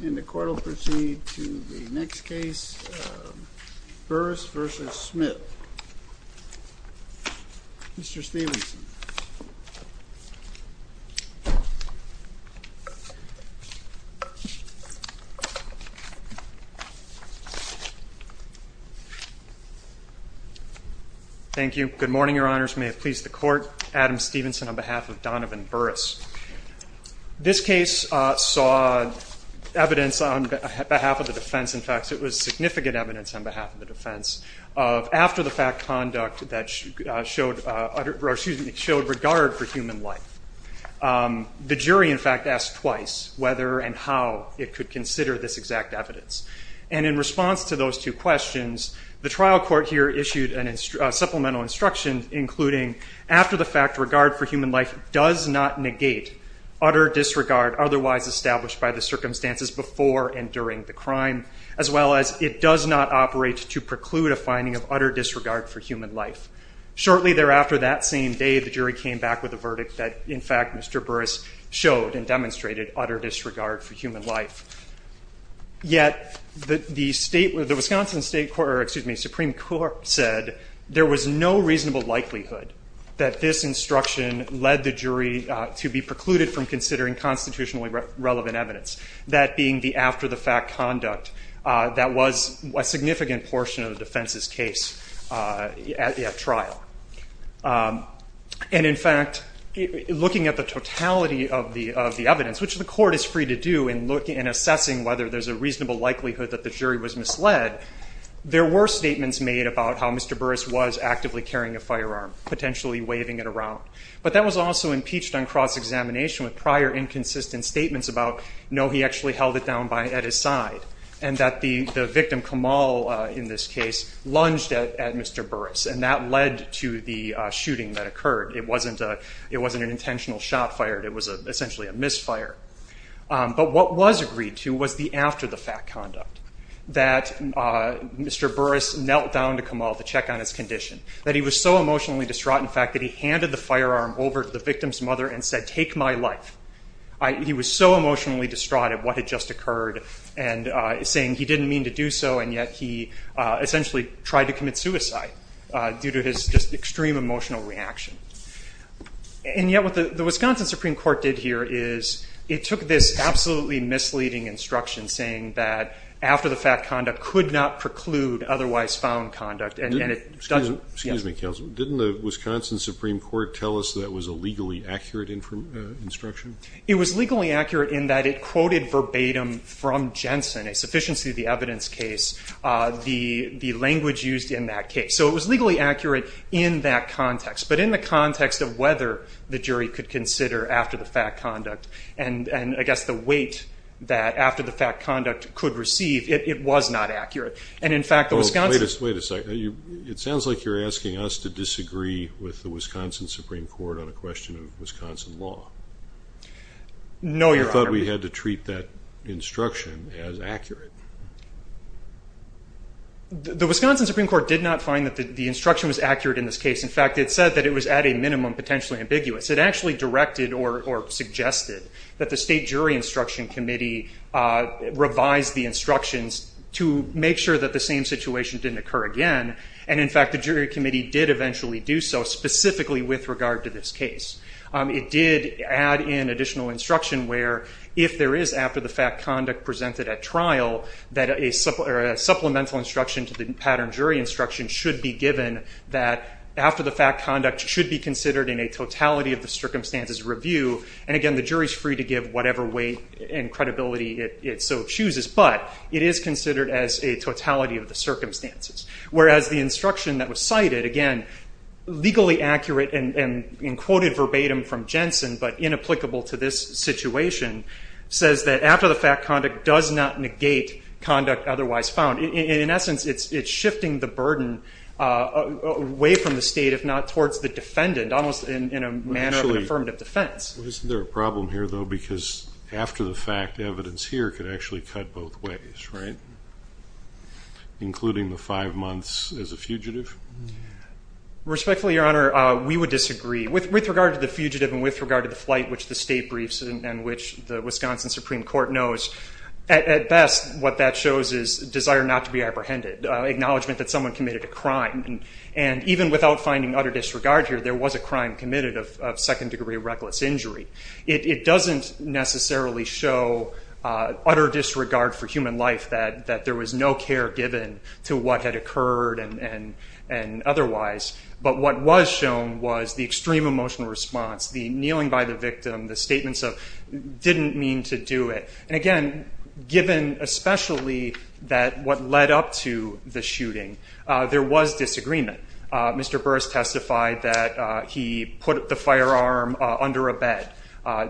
And the court will proceed to the next case, Burris v. Smith. Mr. Stevenson. Thank you. Good morning, your honors. May it please the court, Adam Stevenson on behalf of Donovan Burris. This case saw evidence on behalf of the defense. In fact, it was significant evidence on behalf of the defense of after-the-fact conduct that showed regard for human life. The jury, in fact, asked twice whether and how it could consider this exact evidence. And in response to those two questions, the trial court here issued a supplemental instruction, including after-the-fact regard for human life does not negate utter disregard otherwise established by the circumstances before and during the crime, as well as it does not operate to preclude a finding of utter disregard for human life. Shortly thereafter, that same day, the jury came back with a verdict that, in fact, Mr. Burris showed and demonstrated utter disregard for human life. Yet the Wisconsin Supreme Court said there was no reasonable likelihood that this instruction led the jury to be precluded from considering constitutionally relevant evidence, that being the after-the-fact conduct that was a significant portion of the defense's case at trial. And in fact, looking at the totality of the evidence, which the jury did not have any evidence of, and assessing whether there's a reasonable likelihood that the jury was misled, there were statements made about how Mr. Burris was actively carrying a firearm, potentially waving it around. But that was also impeached on cross-examination with prior inconsistent statements about, no, he actually held it down at his side, and that the victim, Kamal, in this case, lunged at Mr. Burris, and that led to the after-the-fact conduct, that Mr. Burris knelt down to Kamal to check on his condition, that he was so emotionally distraught, in fact, that he handed the firearm over to the victim's mother and said, take my life. He was so emotionally distraught at what had just occurred, and saying he didn't mean to do so, and yet he essentially tried to commit suicide due to his just extreme emotional reaction. And yet what the Wisconsin Supreme Court did here is it took this absolutely misleading instruction, saying that after-the-fact conduct could not preclude otherwise found conduct, and it doesn't... Excuse me, counsel. Didn't the Wisconsin Supreme Court tell us that was a legally accurate instruction? It was legally accurate in that it quoted verbatim from Jensen, a sufficiency of the evidence case, the language used in that case. So it was legally accurate in that context, but in the context of whether the jury could consider after-the-fact conduct, and I guess the weight that after-the-fact conduct could receive, it was not accurate. And in fact, the Wisconsin... Wait a second. It sounds like you're asking us to disagree with the Wisconsin Supreme Court on a question of Wisconsin law. No, Your Honor. I thought we had to treat that instruction as accurate. The Wisconsin Supreme Court did not find that the instruction was accurate in this case. In fact, it said that it was at a minimum potentially ambiguous. It actually directed or suggested that the State Jury Instruction Committee revise the instructions to make sure that the same situation didn't occur again, and in fact, the jury committee did eventually do so, specifically with regard to this case. It did add in additional instruction where if there is after-the-fact conduct presented at trial, that a supplemental instruction to the pattern jury instruction should be given that after-the-fact conduct should be considered in a totality of the circumstances review, and again, the jury's free to give whatever weight and credibility it so chooses, but it is considered as a totality of the circumstances, whereas the instruction that was cited, again, legally accurate and in quoted verbatim from Jensen, but inapplicable to this situation, says that after-the-fact conduct does not negate conduct otherwise found. In essence, it's shifting the burden away from the State, if not towards the defendant, almost in a manner of an affirmative defense. Well, isn't there a problem here, though, because after-the-fact evidence here could actually cut both ways, right, including the five months as a fugitive? Respectfully, Your Honor, we would disagree. With regard to the fugitive and with regard to the flight which the State briefs and which the Wisconsin Supreme Court knows, at best, what that shows is desire not to be apprehended, acknowledgment that someone committed a crime, and even without finding utter disregard here, there was a crime committed of second-degree reckless injury. It doesn't necessarily show utter disregard for human life that there was no care given to what had occurred and otherwise. But what was shown was the extreme emotional response, the kneeling by the victim, the statements of didn't mean to do it. And again, given especially that what led up to the shooting, there was disagreement. Mr. Burris testified that he put the firearm under a bed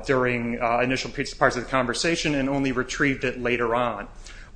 during initial parts of the conversation and only retrieved it later on,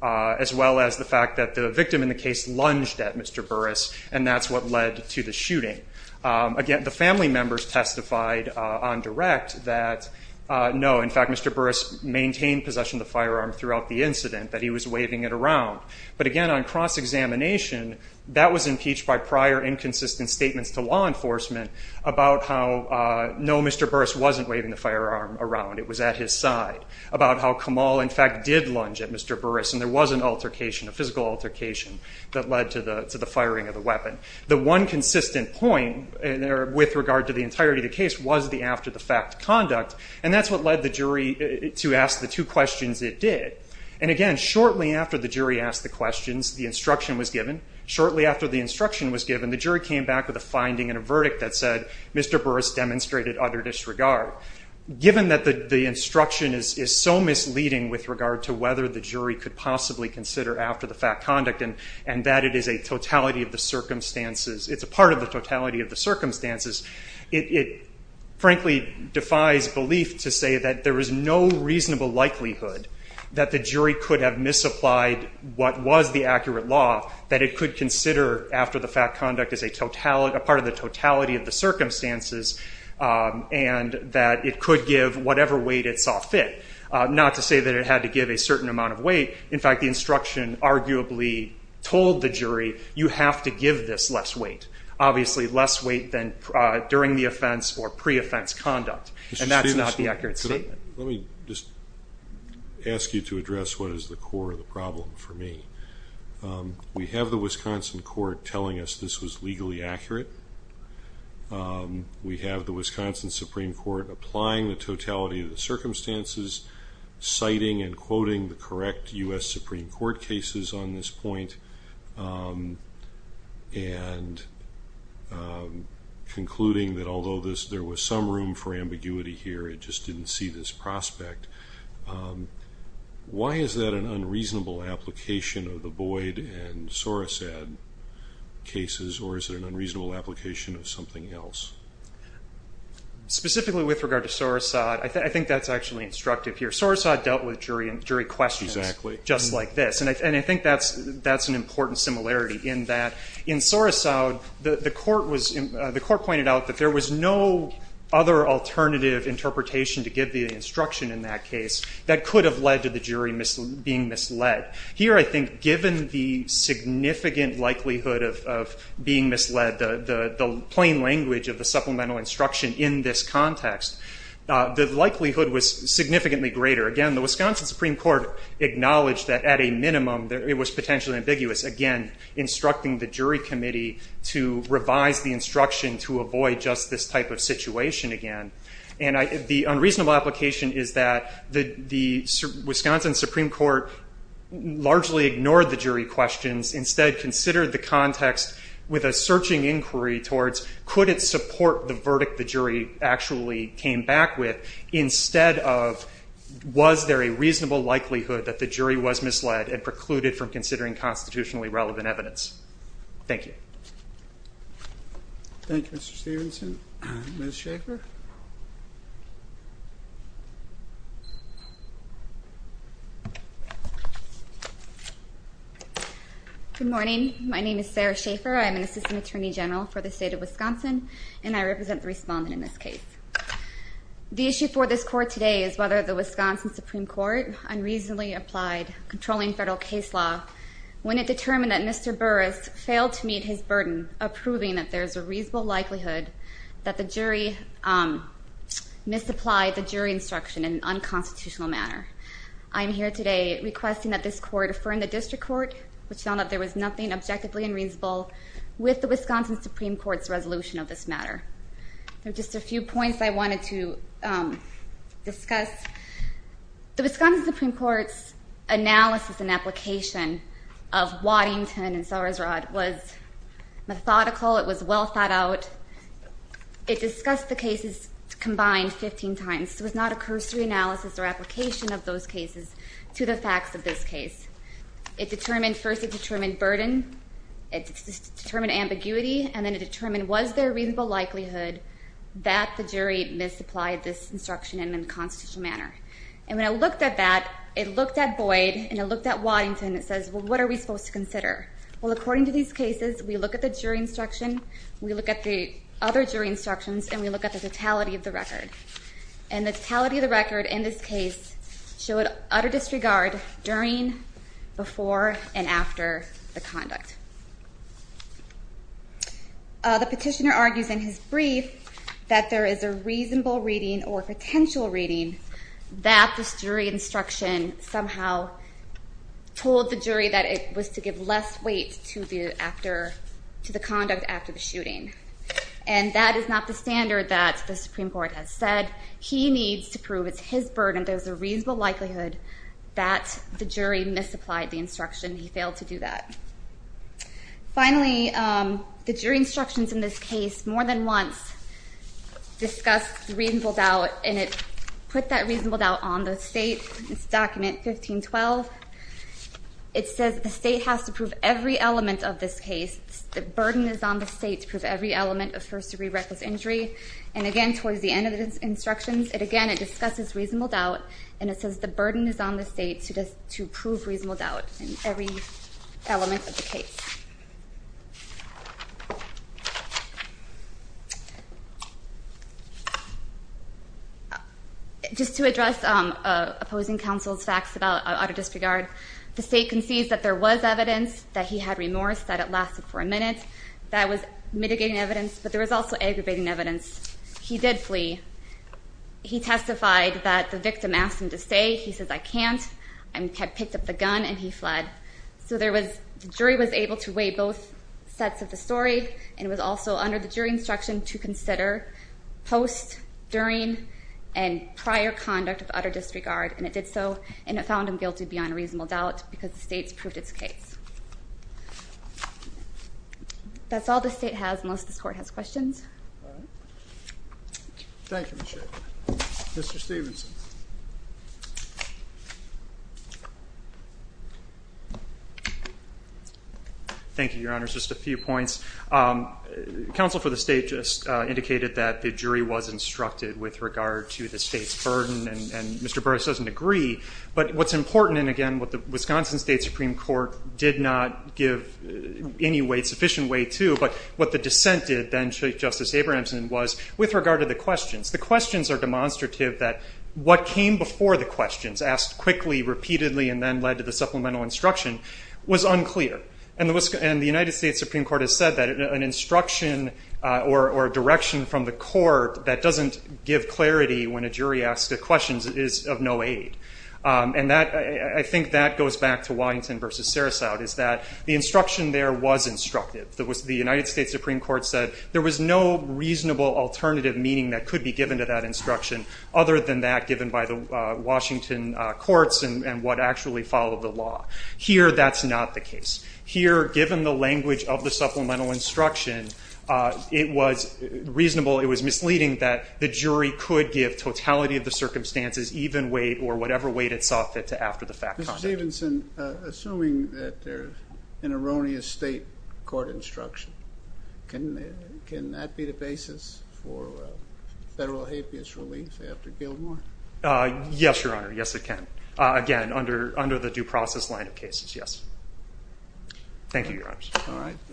as well as the fact that the victim in the case lunged at Mr. Burris, and that's what led to the shooting. Again, the family members testified on direct that, no, in fact, Mr. Burris maintained possession of the firearm throughout the incident, that he was waving it around. But again, on cross-examination, that was impeached by prior inconsistent statements to law enforcement about how, no, Mr. Burris wasn't waving the firearm around, it was at his side, about how Kamal, in fact, did lunge at Mr. Burris, and there was an altercation, a physical altercation that led to the firing of the weapon. The one consistent point with regard to the entirety of the case was the after-the-fact conduct, and that's what led the jury to ask the two questions it did. And again, shortly after the jury asked the questions, the instruction was given. Shortly after the instruction was given, the jury came back with a finding and a verdict that said Mr. Burris demonstrated utter disregard. Given that the instruction is so misleading with regard to whether the jury could possibly consider after-the-fact conduct, and that it is a totality of the circumstances, it's a part of the totality of the circumstances, it, frankly, defies belief to say that there is no reasonable likelihood that the jury could have misapplied what was the accurate law, that it could consider after-the-fact conduct as a part of the totality of the circumstances, and that the jury could give whatever weight it saw fit, not to say that it had to give a certain amount of weight. In fact, the instruction arguably told the jury, you have to give this less weight, obviously less weight than during the offense or pre-offense conduct, and that's not the accurate statement. Let me just ask you to address what is the core of the problem for me. We have the Wisconsin court telling us this was misapplying the totality of the circumstances, citing and quoting the correct U.S. Supreme Court cases on this point, and concluding that although there was some room for ambiguity here, it just didn't see this prospect. Why is that an unreasonable application of the Boyd and Sorosad cases, or is it an unreasonable application of something else? Specifically with regard to Sorosad, I think that's actually instructive here. Sorosad dealt with jury questions just like this, and I think that's an important similarity in that in Sorosad, the court pointed out that there was no other alternative interpretation to give the instruction in that case that could have led to the jury being misled. Here, I think, given the supplemental instruction in this context, the likelihood was significantly greater. Again, the Wisconsin Supreme Court acknowledged that at a minimum, it was potentially ambiguous, again, instructing the jury committee to revise the instruction to avoid just this type of situation again. And the unreasonable application is that the Wisconsin Supreme Court largely ignored the jury questions. Instead, considered the context with a searching inquiry towards could it support the verdict the jury actually came back with, instead of was there a reasonable likelihood that the jury was misled and precluded from considering constitutionally relevant evidence. Thank you. Thank you, Mr. Stevenson. Ms. Schaefer? Good morning. My name is Sarah Schaefer. I'm an assistant attorney general for the state of Wisconsin, and I represent the respondent in this case. The issue for this court today is whether the Wisconsin Supreme Court unreasonably applied controlling federal case law when it determined that Mr. Burris failed to meet his burden of proving that there's a reasonable likelihood that the jury misapplied the jury instruction in an unconstitutional manner. I'm here today requesting that this court affirm the district court which found that there was nothing objectively unreasonable with the Wisconsin Supreme Court's resolution of this matter. There are just a few points I wanted to discuss. The Wisconsin Supreme Court's analysis and application of Waddington and Sowers-Rod was methodical. It was well thought out. It discussed the cases combined 15 times. It was not a cursory analysis or application of those cases to the facts of this case. It first determined burden, it determined ambiguity, and then it determined was there a reasonable likelihood that the jury misapplied this instruction in an unconstitutional manner. And when it looked at that, it looked at Boyd and it looked at Waddington and it says, well, what are we supposed to consider? Well, according to these cases, we look at the jury instruction, we look at the other jury instructions, and we look at the totality of the record in this case showed utter disregard during, before, and after the conduct. The petitioner argues in his brief that there is a reasonable reading or potential reading that this jury instruction somehow told the jury that it was to give less weight to the conduct after the shooting. And that is not the standard that the Supreme Court has said he needs to prove. It's his burden. There's a reasonable likelihood that the jury misapplied the instruction. He failed to do that. Finally, the jury instructions in this case more than once discussed reasonable doubt and it put that reasonable doubt on the state. It's document 1512. It says the state has to prove every element of this case. The burden is on the state to prove every element of first degree reckless injury. And again, towards the end of the instructions, it again, it discusses reasonable doubt and it says the burden is on the state to prove reasonable doubt in every element of the case. Just to address opposing counsel's facts about utter disregard, the state concedes that there was evidence that he had remorse that it lasted for a long time. It lasted for a minute. That was mitigating evidence, but there was also aggravating evidence. He did flee. He testified that the victim asked him to stay. He says, I can't. I picked up the gun and he fled. So there was, the jury was able to weigh both sets of the story and it was also under the jury instruction to consider post, during, and prior conduct of utter disregard. And it did so and it found him guilty beyond reasonable doubt because the state's proved its case. That's all the state has, unless this court has questions. Thank you, Ms. Schiff. Mr. Stevenson. Thank you, Your Honors. Just a few points. Counsel for the state just indicated that the jury was instructed with regard to the state's burden and Mr. Burris doesn't agree. But what's important, and again, what the Wisconsin State Supreme Court did not give any weight to the state's burden. It did in a sufficient way, too, but what the dissent did then, Chief Justice Abrahamsen, was with regard to the questions. The questions are demonstrative that what came before the questions, asked quickly, repeatedly, and then led to the supplemental instruction, was unclear. And the United States Supreme Court has said that an instruction or direction from the court that doesn't give clarity when a jury asks a question is of no aid. And I think that goes back to Waddington versus Sarasout is that the instruction there was instructive. The United States Supreme Court said there was no reasonable alternative meaning that could be given to that instruction other than that given by the Washington courts and what actually followed the law. Here, that's not the case. Here, given the language of the supplemental instruction, it was reasonable, it was misleading that the jury could give totality of the circumstances, even weight, or whatever weight it sought fit to after the fact. Mr. Stevenson, assuming that there's an erroneous state court instruction, can that be the basis for federal habeas relief after Gilmore? Yes, Your Honor. Yes, it can. Again, under the due process line of cases, yes. Thank you, Your Honors.